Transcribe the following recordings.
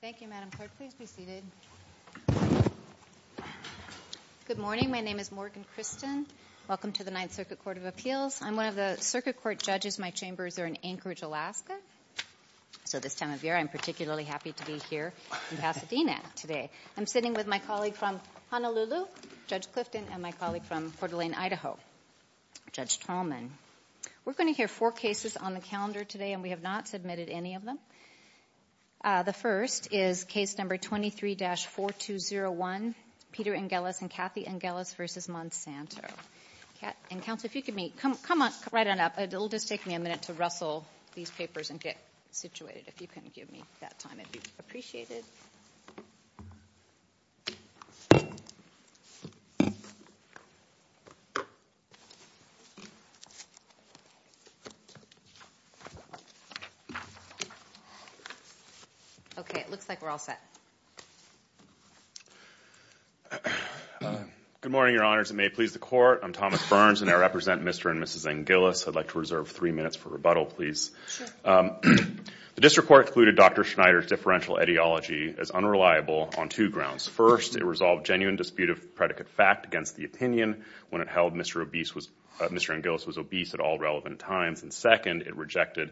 Thank you, Madam Clerk. Please be seated. Good morning. My name is Morgan Christen. Welcome to the Ninth Circuit Court of Appeals. I'm one of the circuit court judges. My chambers are in Anchorage, Alaska. So this time of year, I'm particularly happy to be here in Pasadena today. I'm sitting with my colleague from Honolulu, Judge Clifton, and my colleague from Portland, Idaho, Judge Tallman. We're going to hear four cases on the calendar today, and we have not submitted any of them. The first is case number 23-4201, Peter Ingilis v. Kathy Ingilis v. Monsanto. Counsel, if you could come right on up. It will just take me a minute to rustle these papers and get situated. If you can give me that time, it would be appreciated. Okay. It looks like we're all set. Good morning, Your Honors. It may please the Court. I'm Thomas Burns, and I represent Mr. and Mrs. Ingilis. I'd like to reserve three minutes for rebuttal, please. Sure. The district court included Dr. Schneider's differential ideology as unreliable on two grounds. First, it resolved genuine dispute of predicate fact against the opinion when it held Mr. Ingilis was obese at all relevant times. And second, it rejected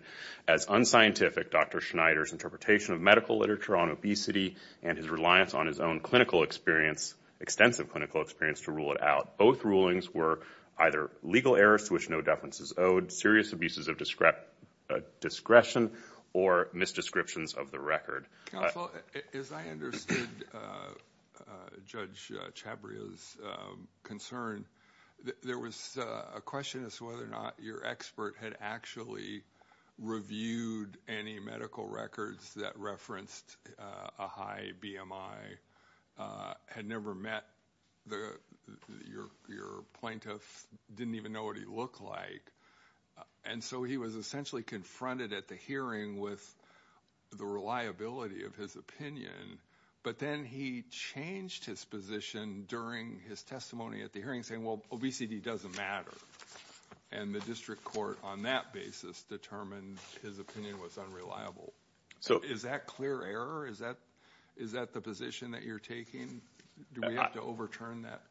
as unscientific Dr. Schneider's interpretation of medical literature on obesity and his reliance on his own clinical experience, extensive clinical experience, to rule it out. Both rulings were either legal errors to which no deference is owed, serious abuses of discretion, or misdescriptions of the record. Counsel, as I understood Judge Chabria's concern, there was a question as to whether or not your expert had actually reviewed any medical records that referenced a high BMI, had never met your plaintiff, didn't even know what he looked like. And so he was essentially confronted at the hearing with the reliability of his opinion. But then he changed his position during his testimony at the hearing, saying, well, obesity doesn't matter. And the district court, on that basis, determined his opinion was unreliable. So is that clear error? Is that the position that you're taking? Do we have to overturn that?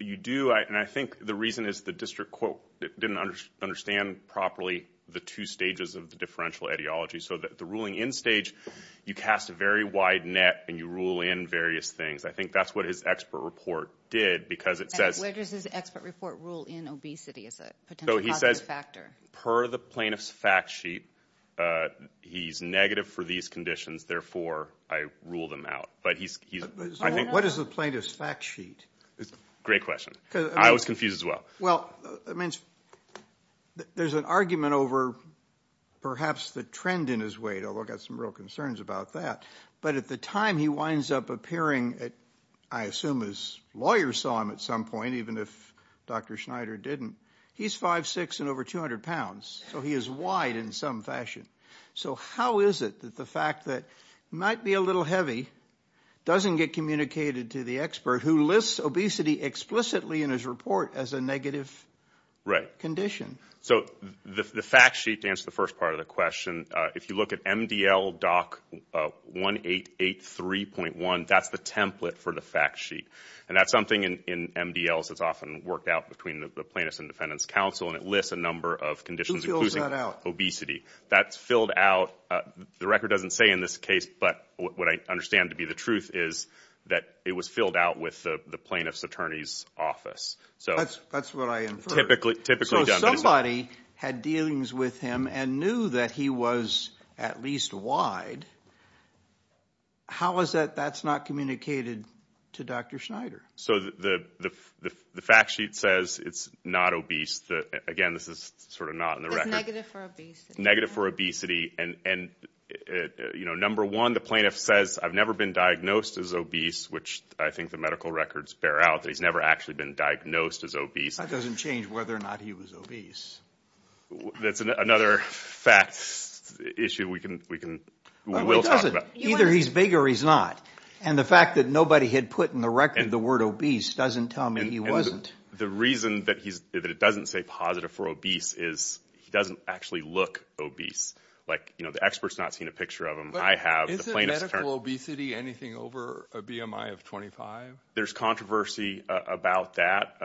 You do, and I think the reason is the district court didn't understand properly the two stages of the differential ideology. So the ruling in stage, you cast a very wide net and you rule in various things. I think that's what his expert report did because it says- Where does his expert report rule in obesity as a potential positive factor? So he says, per the plaintiff's fact sheet, he's negative for these conditions, therefore I rule them out. What is the plaintiff's fact sheet? Great question. I was confused as well. Well, there's an argument over perhaps the trend in his weight, although I've got some real concerns about that. But at the time he winds up appearing, I assume his lawyer saw him at some point, even if Dr. Schneider didn't. He's 5'6 and over 200 pounds, so he is wide in some fashion. So how is it that the fact that he might be a little heavy doesn't get communicated to the expert who lists obesity explicitly in his report as a negative condition? So the fact sheet, to answer the first part of the question, if you look at MDL DOC 1883.1, that's the template for the fact sheet. And that's something in MDLs that's often worked out between the plaintiff's and defendant's counsel, and it lists a number of conditions- Who fills that out? Obesity. That's filled out. The record doesn't say in this case, but what I understand to be the truth is that it was filled out with the plaintiff's attorney's office. That's what I inferred. So somebody had dealings with him and knew that he was at least wide. How is that that's not communicated to Dr. Schneider? So the fact sheet says it's not obese. Again, this is sort of not in the record. It says negative for obesity. Negative for obesity. And number one, the plaintiff says, I've never been diagnosed as obese, which I think the medical records bear out that he's never actually been diagnosed as obese. That doesn't change whether or not he was obese. That's another fact issue we can, we will talk about. Either he's big or he's not. And the fact that nobody had put in the record the word obese doesn't tell me he wasn't. The reason that he's that it doesn't say positive for obese is he doesn't actually look obese. Like, you know, the experts not seen a picture of him. I have a medical obesity, anything over a BMI of twenty five. There's controversy about that.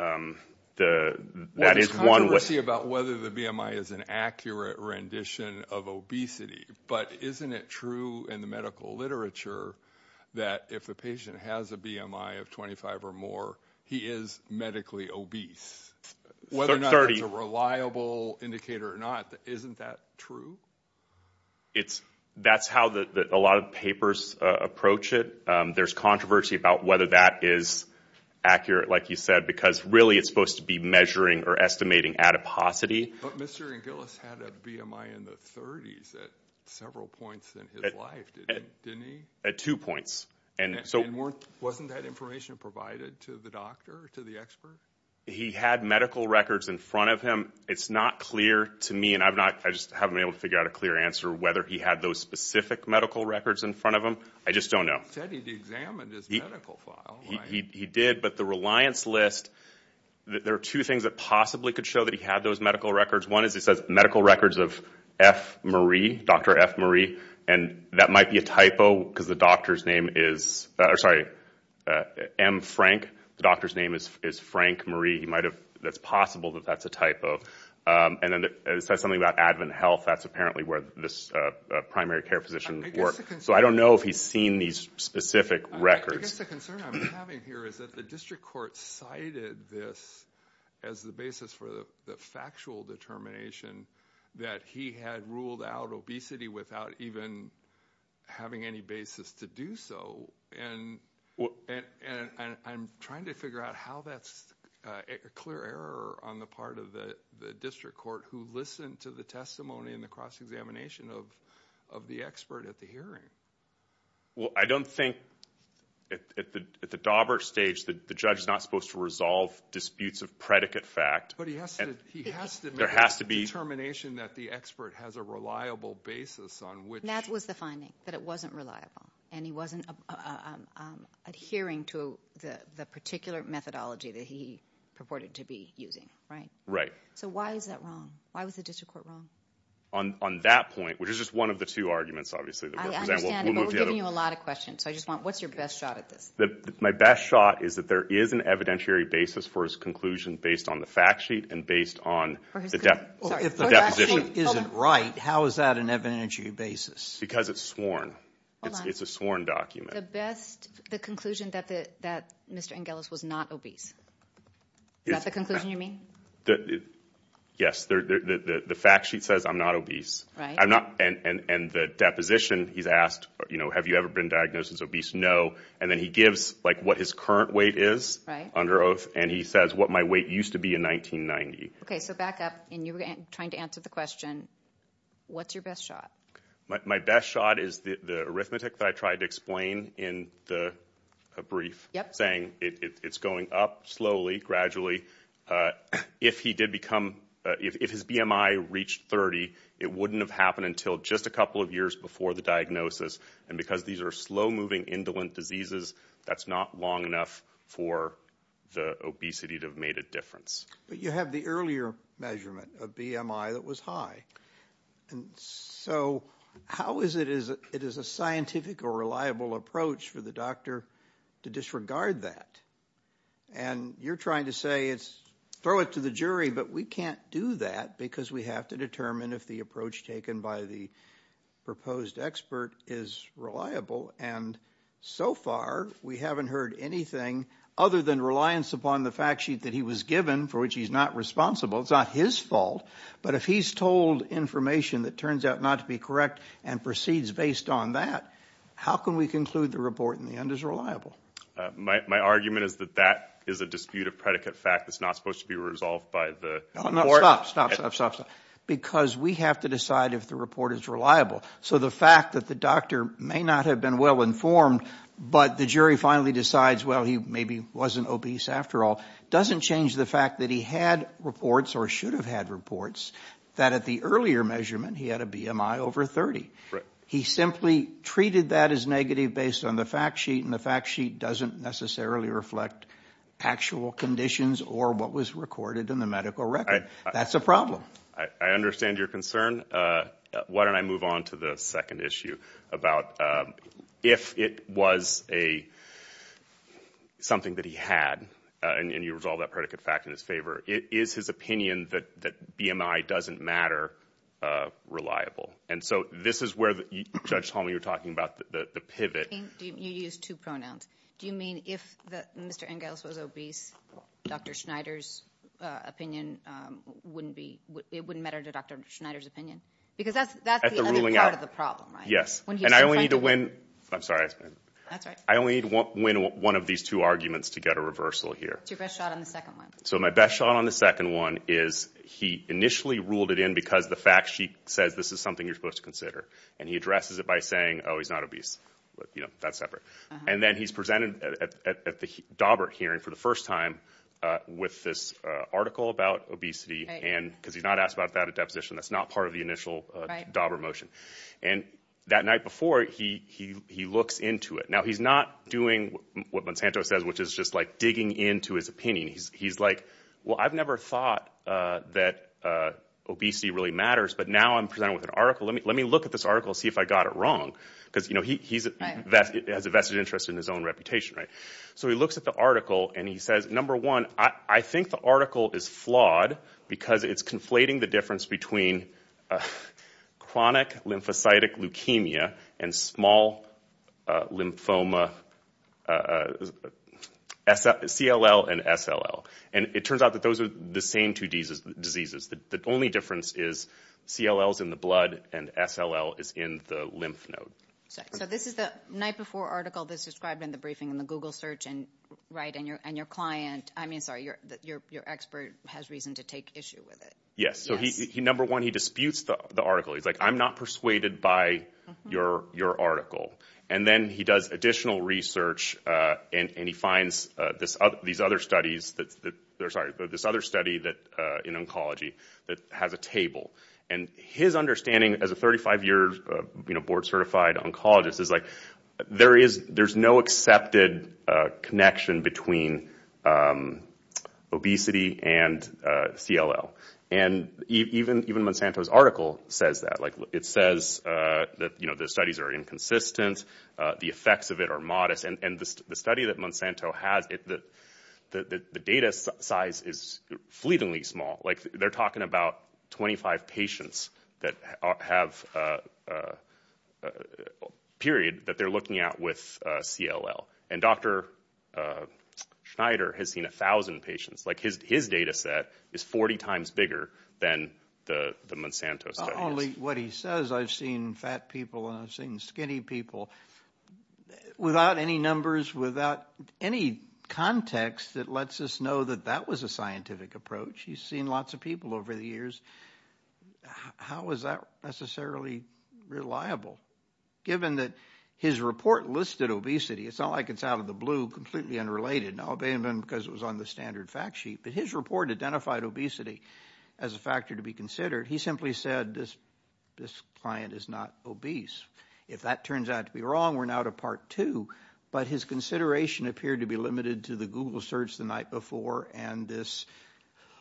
The that is one way about whether the BMI is an accurate rendition of obesity. But isn't it true in the medical literature that if a patient has a BMI of twenty five or more, he is medically obese? Whether or not it's a reliable indicator or not, isn't that true? It's that's how a lot of papers approach it. There's controversy about whether that is accurate, like you said, because really it's supposed to be measuring or estimating adiposity. But Mr. Gillis had a BMI in the 30s at several points in his life, didn't he? At two points. And so wasn't that information provided to the doctor, to the expert? He had medical records in front of him. It's not clear to me and I've not I just haven't been able to figure out a clear answer whether he had those specific medical records in front of him. I just don't know. He said he examined his medical file. He did, but the reliance list, there are two things that possibly could show that he had those medical records. One is he says medical records of F. Marie, Dr. F. Marie. And that might be a typo because the doctor's name is sorry, M. Frank. The doctor's name is Frank Marie. He might have that's possible that that's a typo. And then it says something about Advent Health. That's apparently where this primary care physician works. So I don't know if he's seen these specific records. I guess the concern I'm having here is that the district court cited this as the basis for the factual determination that he had ruled out obesity without even having any basis to do so. And I'm trying to figure out how that's a clear error on the part of the district court who listened to the testimony in the cross-examination of the expert at the hearing. Well, I don't think at the Daubert stage that the judge is not supposed to resolve disputes of predicate fact. But he has to. There has to be determination that the expert has a reliable basis on which. And that was the finding, that it wasn't reliable. And he wasn't adhering to the particular methodology that he purported to be using. Right. So why is that wrong? Why was the district court wrong? On that point, which is just one of the two arguments, obviously. I understand. But we're giving you a lot of questions. So I just want what's your best shot at this? My best shot is that there is an evidentiary basis for his conclusion based on the fact sheet and based on the definition. If the definition isn't right, how is that an evidentiary basis? Because it's sworn. It's a sworn document. The conclusion that Mr. Angelos was not obese. Is that the conclusion you mean? Yes. The fact sheet says I'm not obese. Right. And the deposition, he's asked, have you ever been diagnosed as obese? No. And then he gives what his current weight is under oath. And he says what my weight used to be in 1990. Okay. So back up. And you were trying to answer the question, what's your best shot? My best shot is the arithmetic that I tried to explain in the brief. Yep. Saying it's going up slowly, gradually. If his BMI reached 30, it wouldn't have happened until just a couple of years before the diagnosis. And because these are slow-moving, indolent diseases, that's not long enough for the obesity to have made a difference. But you have the earlier measurement of BMI that was high. And so how is it a scientific or reliable approach for the doctor to disregard that? And you're trying to say throw it to the jury, but we can't do that because we have to determine if the approach taken by the proposed expert is reliable. And so far, we haven't heard anything other than reliance upon the fact sheet that he was given, for which he's not responsible. It's not his fault. But if he's told information that turns out not to be correct and proceeds based on that, how can we conclude the report in the end is reliable? My argument is that that is a dispute of predicate fact that's not supposed to be resolved by the report. Stop, stop, stop, stop, stop. Because we have to decide if the report is reliable. So the fact that the doctor may not have been well-informed, but the jury finally decides, well, he maybe wasn't obese after all, doesn't change the fact that he had reports or should have had reports that at the earlier measurement he had a BMI over 30. He simply treated that as negative based on the fact sheet, and the fact sheet doesn't necessarily reflect actual conditions or what was recorded in the medical record. That's a problem. I understand your concern. Why don't I move on to the second issue about if it was something that he had, and you resolve that predicate fact in his favor, is his opinion that BMI doesn't matter reliable? And so this is where, Judge Tolman, you were talking about the pivot. You used two pronouns. Do you mean if Mr. Ingalls was obese, Dr. Schneider's opinion wouldn't matter to Dr. Schneider's opinion? Because that's the other part of the problem, right? Yes, and I only need to win one of these two arguments to get a reversal here. It's your best shot on the second one. So my best shot on the second one is he initially ruled it in because the fact sheet says this is something you're supposed to consider, and he addresses it by saying, oh, he's not obese. That's separate. And then he's presented at the Daubert hearing for the first time with this article about obesity, because he's not asked about that at deposition. That's not part of the initial Daubert motion. And that night before, he looks into it. Now, he's not doing what Monsanto says, which is just like digging into his opinion. He's like, well, I've never thought that obesity really matters, but now I'm presented with an article. Let me look at this article and see if I got it wrong. Because, you know, he has a vested interest in his own reputation, right? So he looks at the article, and he says, number one, I think the article is flawed because it's conflating the difference between chronic lymphocytic leukemia and small lymphoma CLL and SLL. And it turns out that those are the same two diseases. The only difference is CLL is in the blood and SLL is in the lymph node. So this is the night before article that's described in the briefing in the Google search, right? And your client, I mean, sorry, your expert has reason to take issue with it. Yes. So number one, he disputes the article. He's like, I'm not persuaded by your article. And then he does additional research, and he finds these other studies that, sorry, this other study in oncology that has a table. And his understanding as a 35-year board-certified oncologist is, like, there's no accepted connection between obesity and CLL. And even Monsanto's article says that. Like, it says that, you know, the studies are inconsistent, the effects of it are modest. And the study that Monsanto has, the data size is fleetingly small. Like, they're talking about 25 patients that have a period that they're looking at with CLL. And Dr. Schneider has seen 1,000 patients. Like, his data set is 40 times bigger than the Monsanto study. Not only what he says, I've seen fat people and I've seen skinny people, without any numbers, without any context that lets us know that that was a scientific approach. He's seen lots of people over the years. How is that necessarily reliable? Given that his report listed obesity, it's not like it's out of the blue, completely unrelated. Now, it may have been because it was on the standard fact sheet. But his report identified obesity as a factor to be considered. He simply said this client is not obese. If that turns out to be wrong, we're now to Part 2. But his consideration appeared to be limited to the Google search the night before and this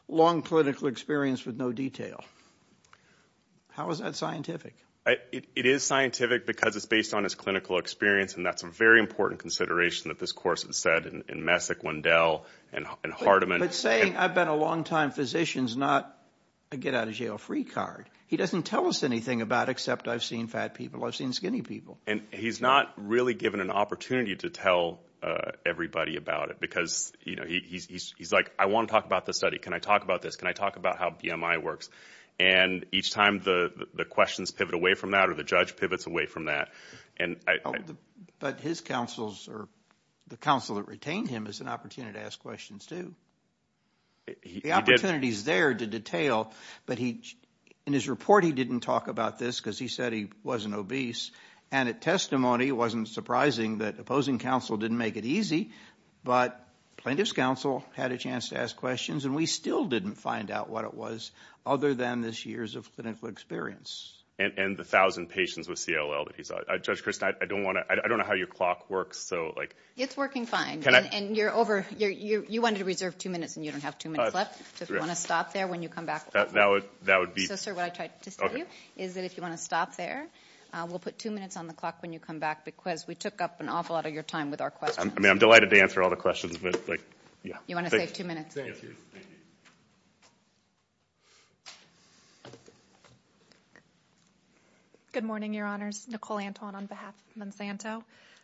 long clinical experience with no detail. How is that scientific? It is scientific because it's based on his clinical experience, and that's a very important consideration that this course has said in Messick, Wendell, and Hardiman. But saying, I've been a long-time physician is not a get-out-of-jail-free card. He doesn't tell us anything about it except I've seen fat people, I've seen skinny people. And he's not really given an opportunity to tell everybody about it because he's like, I want to talk about this study. Can I talk about this? Can I talk about how BMI works? And each time the questions pivot away from that or the judge pivots away from that. But his counsels or the counsel that retained him has an opportunity to ask questions too. The opportunity is there to detail, but in his report he didn't talk about this because he said he wasn't obese. And at testimony, it wasn't surprising that opposing counsel didn't make it easy, but plaintiff's counsel had a chance to ask questions, and we still didn't find out what it was other than this year's clinical experience. And the 1,000 patients with CLL that he saw. Judge Christin, I don't know how your clock works. It's working fine. You wanted to reserve two minutes and you don't have two minutes left, so if you want to stop there when you come back. So, sir, what I tried to tell you is that if you want to stop there, we'll put two minutes on the clock when you come back because we took up an awful lot of your time with our questions. I'm delighted to answer all the questions. You want to save two minutes. Good morning, Your Honors. Nicole Anton on behalf of Monsanto.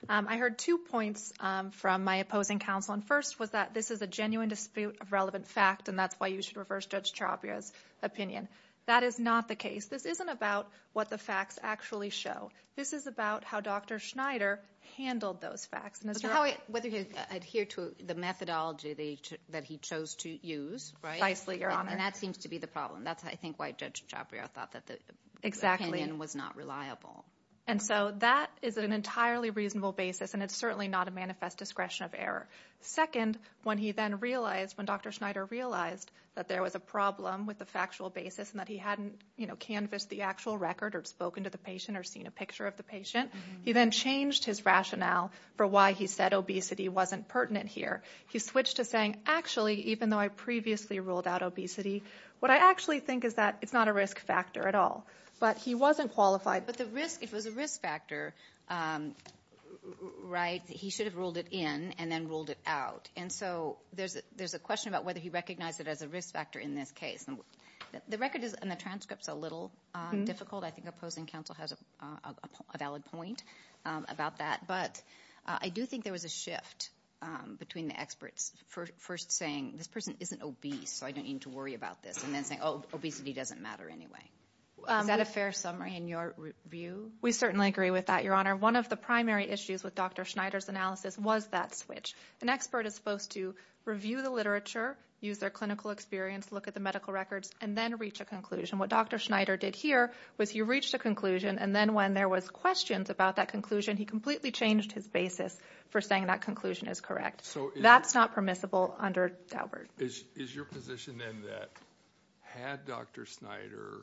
I heard two points from my opposing counsel, and first was that this is a genuine dispute of relevant fact and that's why you should reverse Judge Ciapria's opinion. That is not the case. This isn't about what the facts actually show. This is about how Dr. Schneider handled those facts. Whether he adhered to the methodology that he chose to use, right? Precisely, Your Honor. And that seems to be the problem. That's, I think, why Judge Ciapria thought that the opinion was not reliable. And so that is an entirely reasonable basis, and it's certainly not a manifest discretion of error. Second, when he then realized, when Dr. Schneider realized that there was a problem with the factual basis and that he hadn't canvassed the actual record or spoken to the patient or seen a picture of the patient, he then changed his rationale for why he said obesity wasn't pertinent here. He switched to saying, actually, even though I previously ruled out obesity, what I actually think is that it's not a risk factor at all. But he wasn't qualified. But the risk, it was a risk factor, right? He should have ruled it in and then ruled it out. And so there's a question about whether he recognized it as a risk factor in this case. The record and the transcripts are a little difficult. I think opposing counsel has a valid point about that. But I do think there was a shift between the experts first saying, this person isn't obese, so I don't need to worry about this, and then saying, oh, obesity doesn't matter anyway. Is that a fair summary in your view? We certainly agree with that, Your Honor. One of the primary issues with Dr. Schneider's analysis was that switch. An expert is supposed to review the literature, use their clinical experience, look at the medical records, and then reach a conclusion. What Dr. Schneider did here was he reached a conclusion, and then when there was questions about that conclusion, he completely changed his basis for saying that conclusion is correct. That's not permissible under Daubert. Is your position then that had Dr. Schneider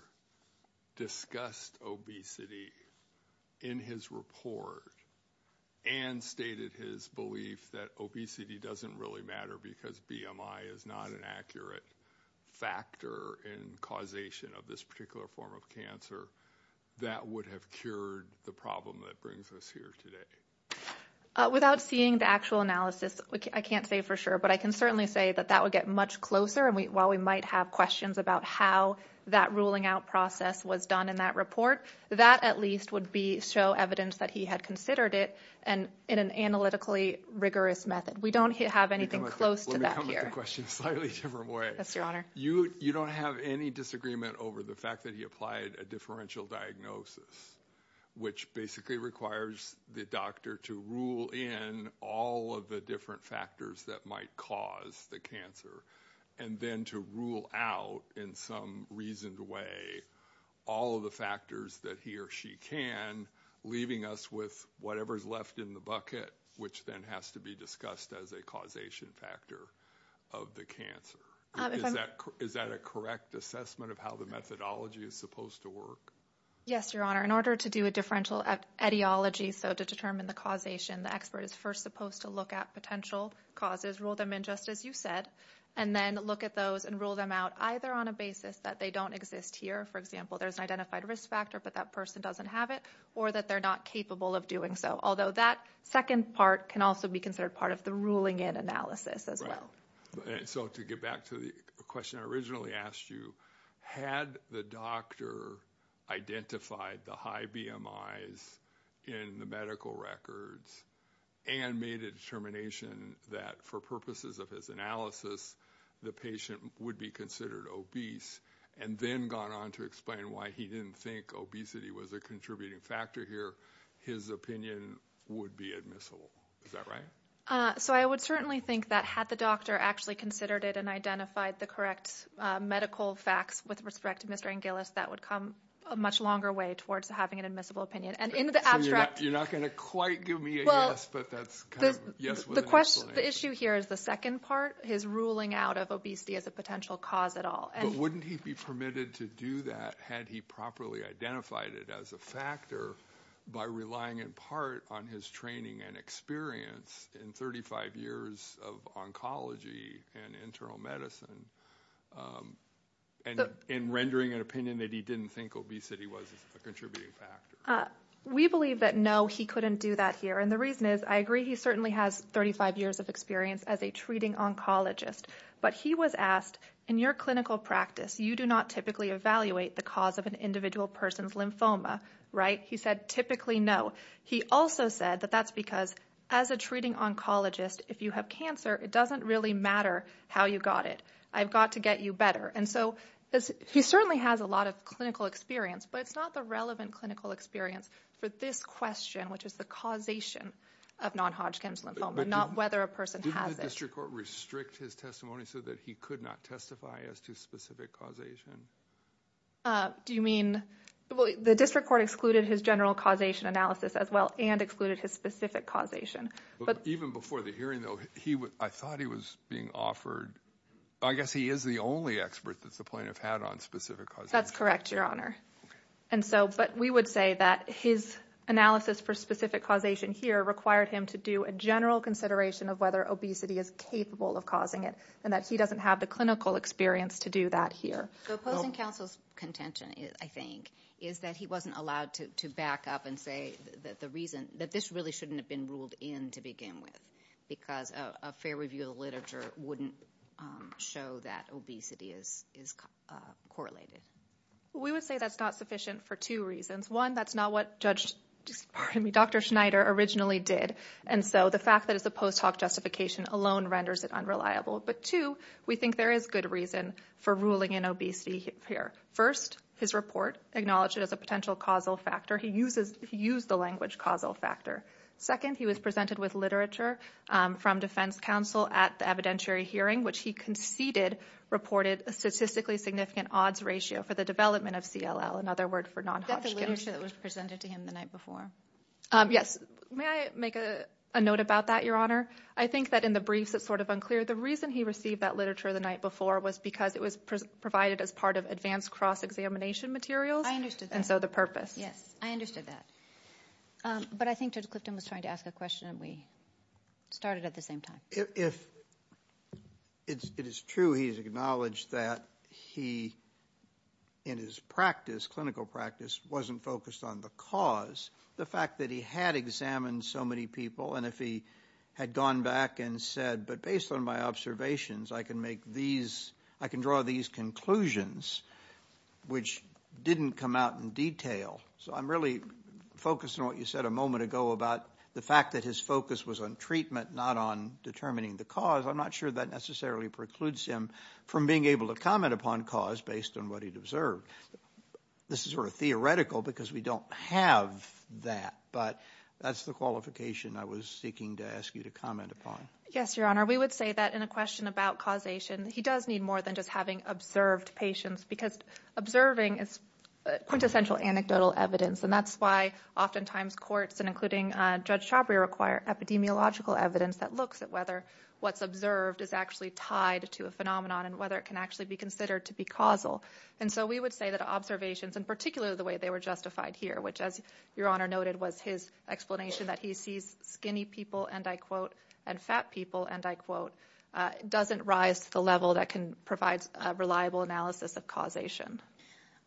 discussed obesity in his report and stated his belief that obesity doesn't really matter because BMI is not an accurate factor in causation of this particular form of cancer, that would have cured the problem that brings us here today? Without seeing the actual analysis, I can't say for sure, but I can certainly say that that would get much closer. While we might have questions about how that ruling out process was done in that report, that at least would show evidence that he had considered it in an analytically rigorous method. We don't have anything close to that here. Let me come at the question in a slightly different way. Yes, Your Honor. You don't have any disagreement over the fact that he applied a differential diagnosis, which basically requires the doctor to rule in all of the different factors that might cause the cancer and then to rule out in some reasoned way all of the factors that he or she can, leaving us with whatever is left in the bucket, which then has to be discussed as a causation factor of the cancer. Is that a correct assessment of how the methodology is supposed to work? Yes, Your Honor. In order to do a differential etiology, so to determine the causation, the expert is first supposed to look at potential causes, rule them in just as you said, and then look at those and rule them out either on a basis that they don't exist here, for example, there's an identified risk factor but that person doesn't have it, or that they're not capable of doing so, although that second part can also be considered part of the ruling in analysis as well. So to get back to the question I originally asked you, had the doctor identified the high BMIs in the medical records and made a determination that for purposes of his analysis the patient would be considered obese and then gone on to explain why he didn't think obesity was a contributing factor here, his opinion would be admissible. Is that right? So I would certainly think that had the doctor actually considered it and identified the correct medical facts with respect to Mr. Angelis, that would come a much longer way towards having an admissible opinion. So you're not going to quite give me a yes, but that's kind of a yes. The issue here is the second part, his ruling out of obesity as a potential cause at all. But wouldn't he be permitted to do that had he properly identified it as a factor by relying in part on his training and experience in 35 years of oncology and internal medicine and rendering an opinion that he didn't think obesity was a contributing factor? We believe that no, he couldn't do that here, and the reason is I agree he certainly has 35 years of experience as a treating oncologist. But he was asked, in your clinical practice, you do not typically evaluate the cause of an individual person's lymphoma, right? He said typically no. He also said that that's because as a treating oncologist, if you have cancer, it doesn't really matter how you got it. I've got to get you better. And so he certainly has a lot of clinical experience, but it's not the relevant clinical experience for this question, which is the causation of non-Hodgkin's lymphoma, not whether a person has it. Didn't the district court restrict his testimony so that he could not testify as to specific causation? Do you mean? Well, the district court excluded his general causation analysis as well and excluded his specific causation. But even before the hearing, though, I thought he was being offered. I guess he is the only expert that the plaintiff had on specific causation. That's correct, Your Honor. And so, but we would say that his analysis for specific causation here required him to do a general consideration of whether obesity is capable of causing it and that he doesn't have the clinical experience to do that here. The opposing counsel's contention, I think, is that he wasn't allowed to back up and say that this really shouldn't have been ruled in to begin with because a fair review of the literature wouldn't show that obesity is correlated. We would say that's not sufficient for two reasons. One, that's not what Dr. Schneider originally did, and so the fact that it's a post hoc justification alone renders it unreliable. But two, we think there is good reason for ruling in obesity here. First, his report acknowledged it as a potential causal factor. He used the language causal factor. Second, he was presented with literature from defense counsel at the evidentiary hearing, which he conceded reported a statistically significant odds ratio for the development of CLL, another word for non-Hodgkin. Is that the literature that was presented to him the night before? Yes. May I make a note about that, Your Honor? I think that in the briefs it's sort of unclear. The reason he received that literature the night before was because it was provided as part of advanced cross-examination materials. I understood that. And so the purpose. Yes, I understood that. But I think Judge Clifton was trying to ask a question, and we started at the same time. If it is true he has acknowledged that he, in his practice, clinical practice, wasn't focused on the cause, the fact that he had examined so many people, and if he had gone back and said, but based on my observations, I can draw these conclusions which didn't come out in detail. So I'm really focused on what you said a moment ago about the fact that his focus was on treatment, not on determining the cause. I'm not sure that necessarily precludes him from being able to comment upon cause based on what he'd observed. This is sort of theoretical because we don't have that, but that's the qualification I was seeking to ask you to comment upon. Yes, Your Honor. We would say that in a question about causation, he does need more than just having observed patients because observing is quintessential anecdotal evidence, and that's why oftentimes courts, including Judge Chabria, require epidemiological evidence that looks at whether what's observed is actually tied to a phenomenon and whether it can actually be considered to be causal. And so we would say that observations, in particular the way they were justified here, which as Your Honor noted was his explanation that he sees skinny people, and I quote, and fat people, and I quote, doesn't rise to the level that can provide a reliable analysis of causation.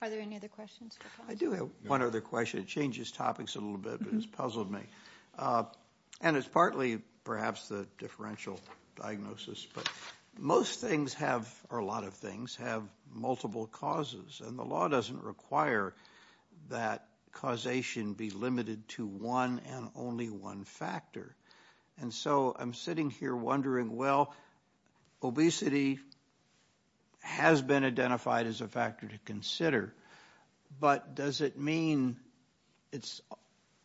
Are there any other questions? I do have one other question. It changes topics a little bit, but it's puzzled me. And it's partly perhaps the differential diagnosis, but most things have, or a lot of things, have multiple causes, and the law doesn't require that causation be limited to one and only one factor. And so I'm sitting here wondering, well, obesity has been identified as a factor to consider, but does it mean it's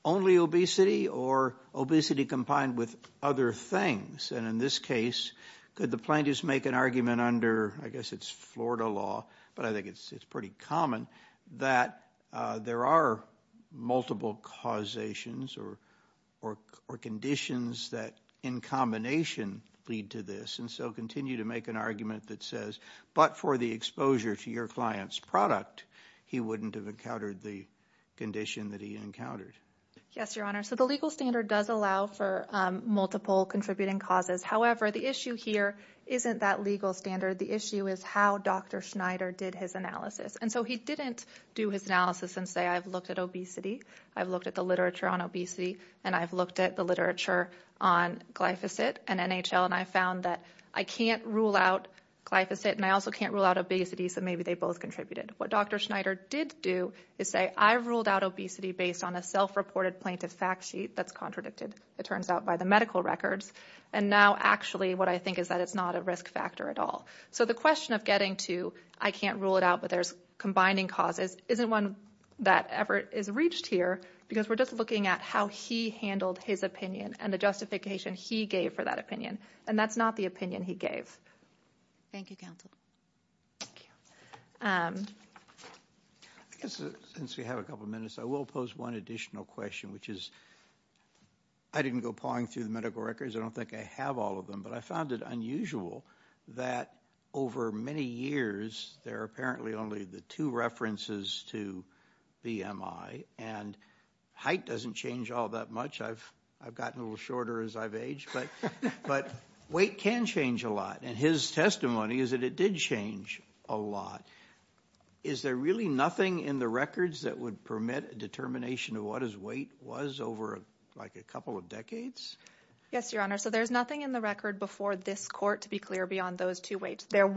only obesity or obesity combined with other things? And in this case, could the plaintiffs make an argument under, I guess it's Florida law, but I think it's pretty common, that there are multiple causations or conditions that in combination lead to this. And so continue to make an argument that says, but for the exposure to your client's product, he wouldn't have encountered the condition that he encountered. Yes, Your Honor. So the legal standard does allow for multiple contributing causes. However, the issue here isn't that legal standard. The issue is how Dr. Schneider did his analysis. And so he didn't do his analysis and say, I've looked at obesity, I've looked at the literature on obesity, and I've looked at the literature on glyphosate and NHL, and I've found that I can't rule out glyphosate, and I also can't rule out obesity, so maybe they both contributed. What Dr. Schneider did do is say, I've ruled out obesity based on a self-reported plaintiff fact sheet that's contradicted, it turns out, by the medical records, and now actually what I think is that it's not a risk factor at all. So the question of getting to, I can't rule it out, but there's combining causes, isn't one that ever is reached here because we're just looking at how he handled his opinion and the justification he gave for that opinion, and that's not the opinion he gave. Thank you, counsel. Thank you. Since we have a couple minutes, I will pose one additional question, which is I didn't go pawing through the medical records. I don't think I have all of them, but I found it unusual that over many years there are apparently only the two references to BMI, and height doesn't change all that much. I've gotten a little shorter as I've aged, but weight can change a lot, and his testimony is that it did change a lot. Is there really nothing in the records that would permit a determination of what his weight was over a couple of decades? Yes, Your Honor. So there's nothing in the record before this court to be clear beyond those two weights. There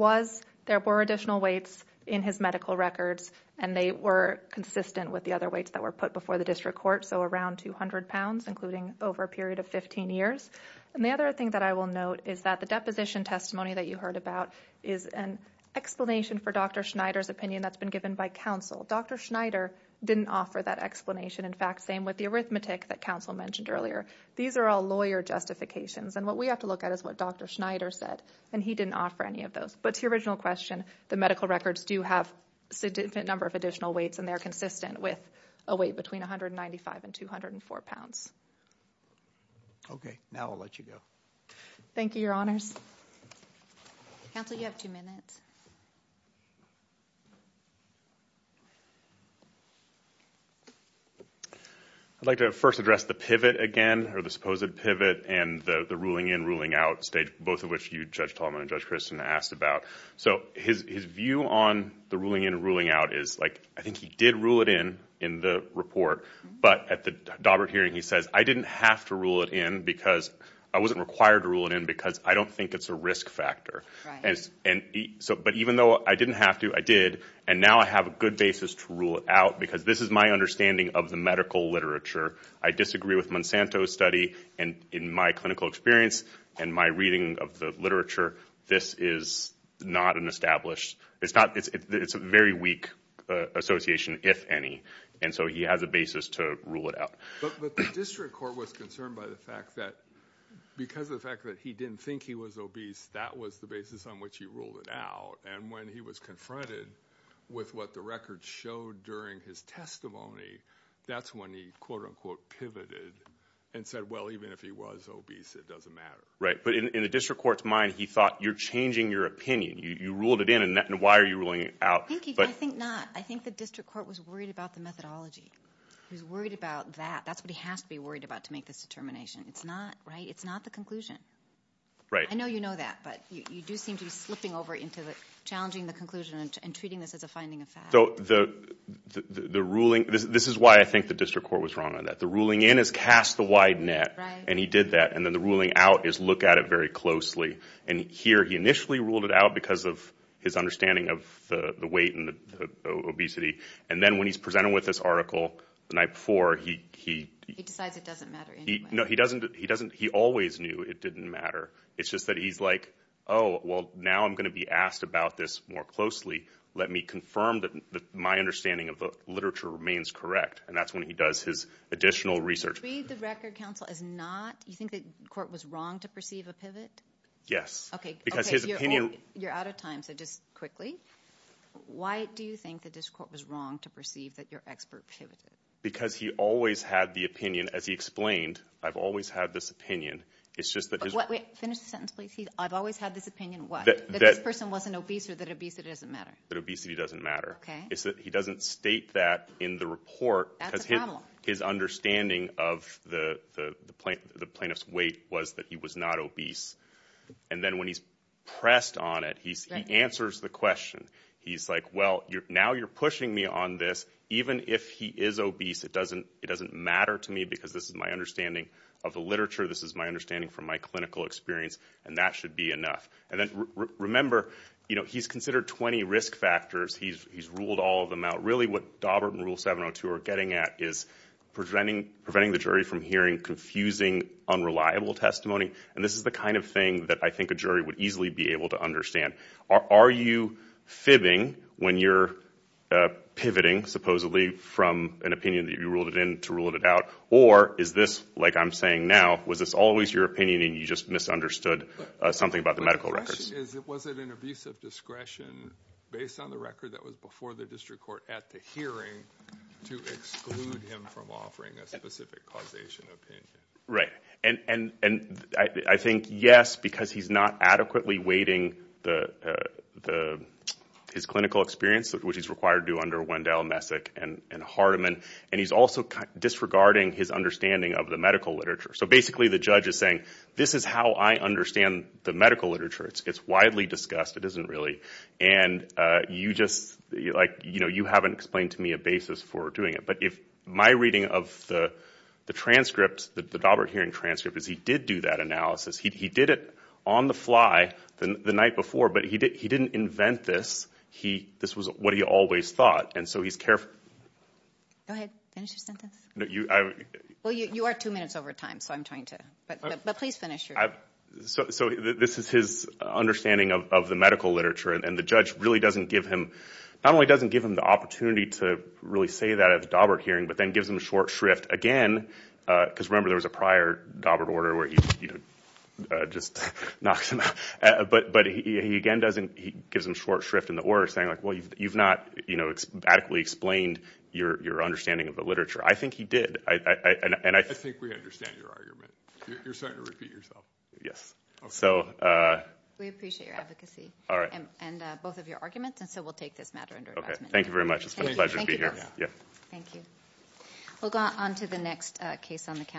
were additional weights in his medical records, and they were consistent with the other weights that were put before the district court, so around 200 pounds, including over a period of 15 years. And the other thing that I will note is that the deposition testimony that you heard about is an explanation for Dr. Schneider's opinion that's been given by counsel. Dr. Schneider didn't offer that explanation. In fact, same with the arithmetic that counsel mentioned earlier. These are all lawyer justifications, and what we have to look at is what Dr. Schneider said, and he didn't offer any of those. But to your original question, the medical records do have a significant number of additional weights, and they're consistent with a weight between 195 and 204 pounds. Okay, now I'll let you go. Thank you, Your Honors. Counsel, you have two minutes. I'd like to first address the pivot again, or the supposed pivot, and the ruling in, ruling out stage, both of which you, Judge Tallman, and Judge Christin asked about. So his view on the ruling in, ruling out is, like, I think he did rule it in in the report, but at the Daubert hearing he says, I didn't have to rule it in because I wasn't required to rule it in because I don't think it's a risk factor. But even though I didn't have to, I did, and now I have a good basis to rule it out because this is my understanding of the medical literature. I disagree with Monsanto's study, and in my clinical experience and my reading of the literature, this is not an established, it's a very weak association, if any. And so he has a basis to rule it out. But the district court was concerned by the fact that because of the fact that he didn't think he was obese, that was the basis on which he ruled it out. And when he was confronted with what the record showed during his testimony, that's when he quote, unquote, pivoted and said, well, even if he was obese, it doesn't matter. Right, but in the district court's mind, he thought, you're changing your opinion. You ruled it in, and why are you ruling it out? I think not. I think the district court was worried about the methodology. He was worried about that. That's what he has to be worried about to make this determination. It's not, right? It's not the conclusion. Right. I know you know that, but you do seem to be slipping over into challenging the conclusion and treating this as a finding of facts. So the ruling, this is why I think the district court was wrong on that. The ruling in is cast the wide net, and he did that, and then the ruling out is look at it very closely. And here he initially ruled it out because of his understanding of the weight and the obesity, and then when he's presented with this article the night before, he- He decides it doesn't matter anyway. No, he doesn't. He always knew it didn't matter. It's just that he's like, oh, well, now I'm going to be asked about this more closely. Let me confirm that my understanding of the literature remains correct, and that's when he does his additional research. Do you believe the record counsel is not? Do you think the court was wrong to perceive a pivot? Yes, because his opinion- Okay, you're out of time, so just quickly. Why do you think the district court was wrong to perceive that your expert pivoted? Because he always had the opinion, as he explained, I've always had this opinion. It's just that his- Wait, finish the sentence, please. I've always had this opinion, what? That this person wasn't obese or that obesity doesn't matter. That obesity doesn't matter. Okay. It's that he doesn't state that in the report. That's a problem. Because his understanding of the plaintiff's weight was that he was not obese, and then when he's pressed on it, he answers the question. He's like, well, now you're pushing me on this. Even if he is obese, it doesn't matter to me because this is my understanding of the literature. This is my understanding from my clinical experience, and that should be enough. And then remember, you know, he's considered 20 risk factors. He's ruled all of them out. Really what Daubert and Rule 702 are getting at is preventing the jury from hearing confusing, unreliable testimony, and this is the kind of thing that I think a jury would easily be able to understand. Are you fibbing when you're pivoting, supposedly, from an opinion that you ruled it in to ruled it out, or is this, like I'm saying now, was this always your opinion and you just misunderstood something about the medical records? The question is, was it an abuse of discretion based on the record that was before the district court at the hearing to exclude him from offering a specific causation opinion? Right. And I think, yes, because he's not adequately weighting his clinical experience, which he's required to do under Wendell, Messick, and Hardiman, and he's also disregarding his understanding of the medical literature. So basically the judge is saying, this is how I understand the medical literature. It's widely discussed. It isn't really, and you just, like, you know, you haven't explained to me a basis for doing it. But my reading of the transcript, the Daubert hearing transcript, is he did do that analysis. He did it on the fly the night before, but he didn't invent this. This was what he always thought, and so he's careful. Go ahead. Finish your sentence. Well, you are two minutes over time, so I'm trying to, but please finish your sentence. So this is his understanding of the medical literature, and the judge really doesn't give him, not only doesn't give him the opportunity to really say that at the Daubert hearing, but then gives him short shrift again because, remember, there was a prior Daubert order where he just knocks him out. But he again doesn't, he gives him short shrift in the order saying, like, well, you've not adequately explained your understanding of the literature. I think he did. I think we understand your argument. You're starting to repeat yourself. Yes. We appreciate your advocacy. All right. And both of your arguments, and so we'll take this matter under advisement. Okay. Thank you very much. It's been a pleasure to be here. Thank you. We'll go on to the next case on the calendar.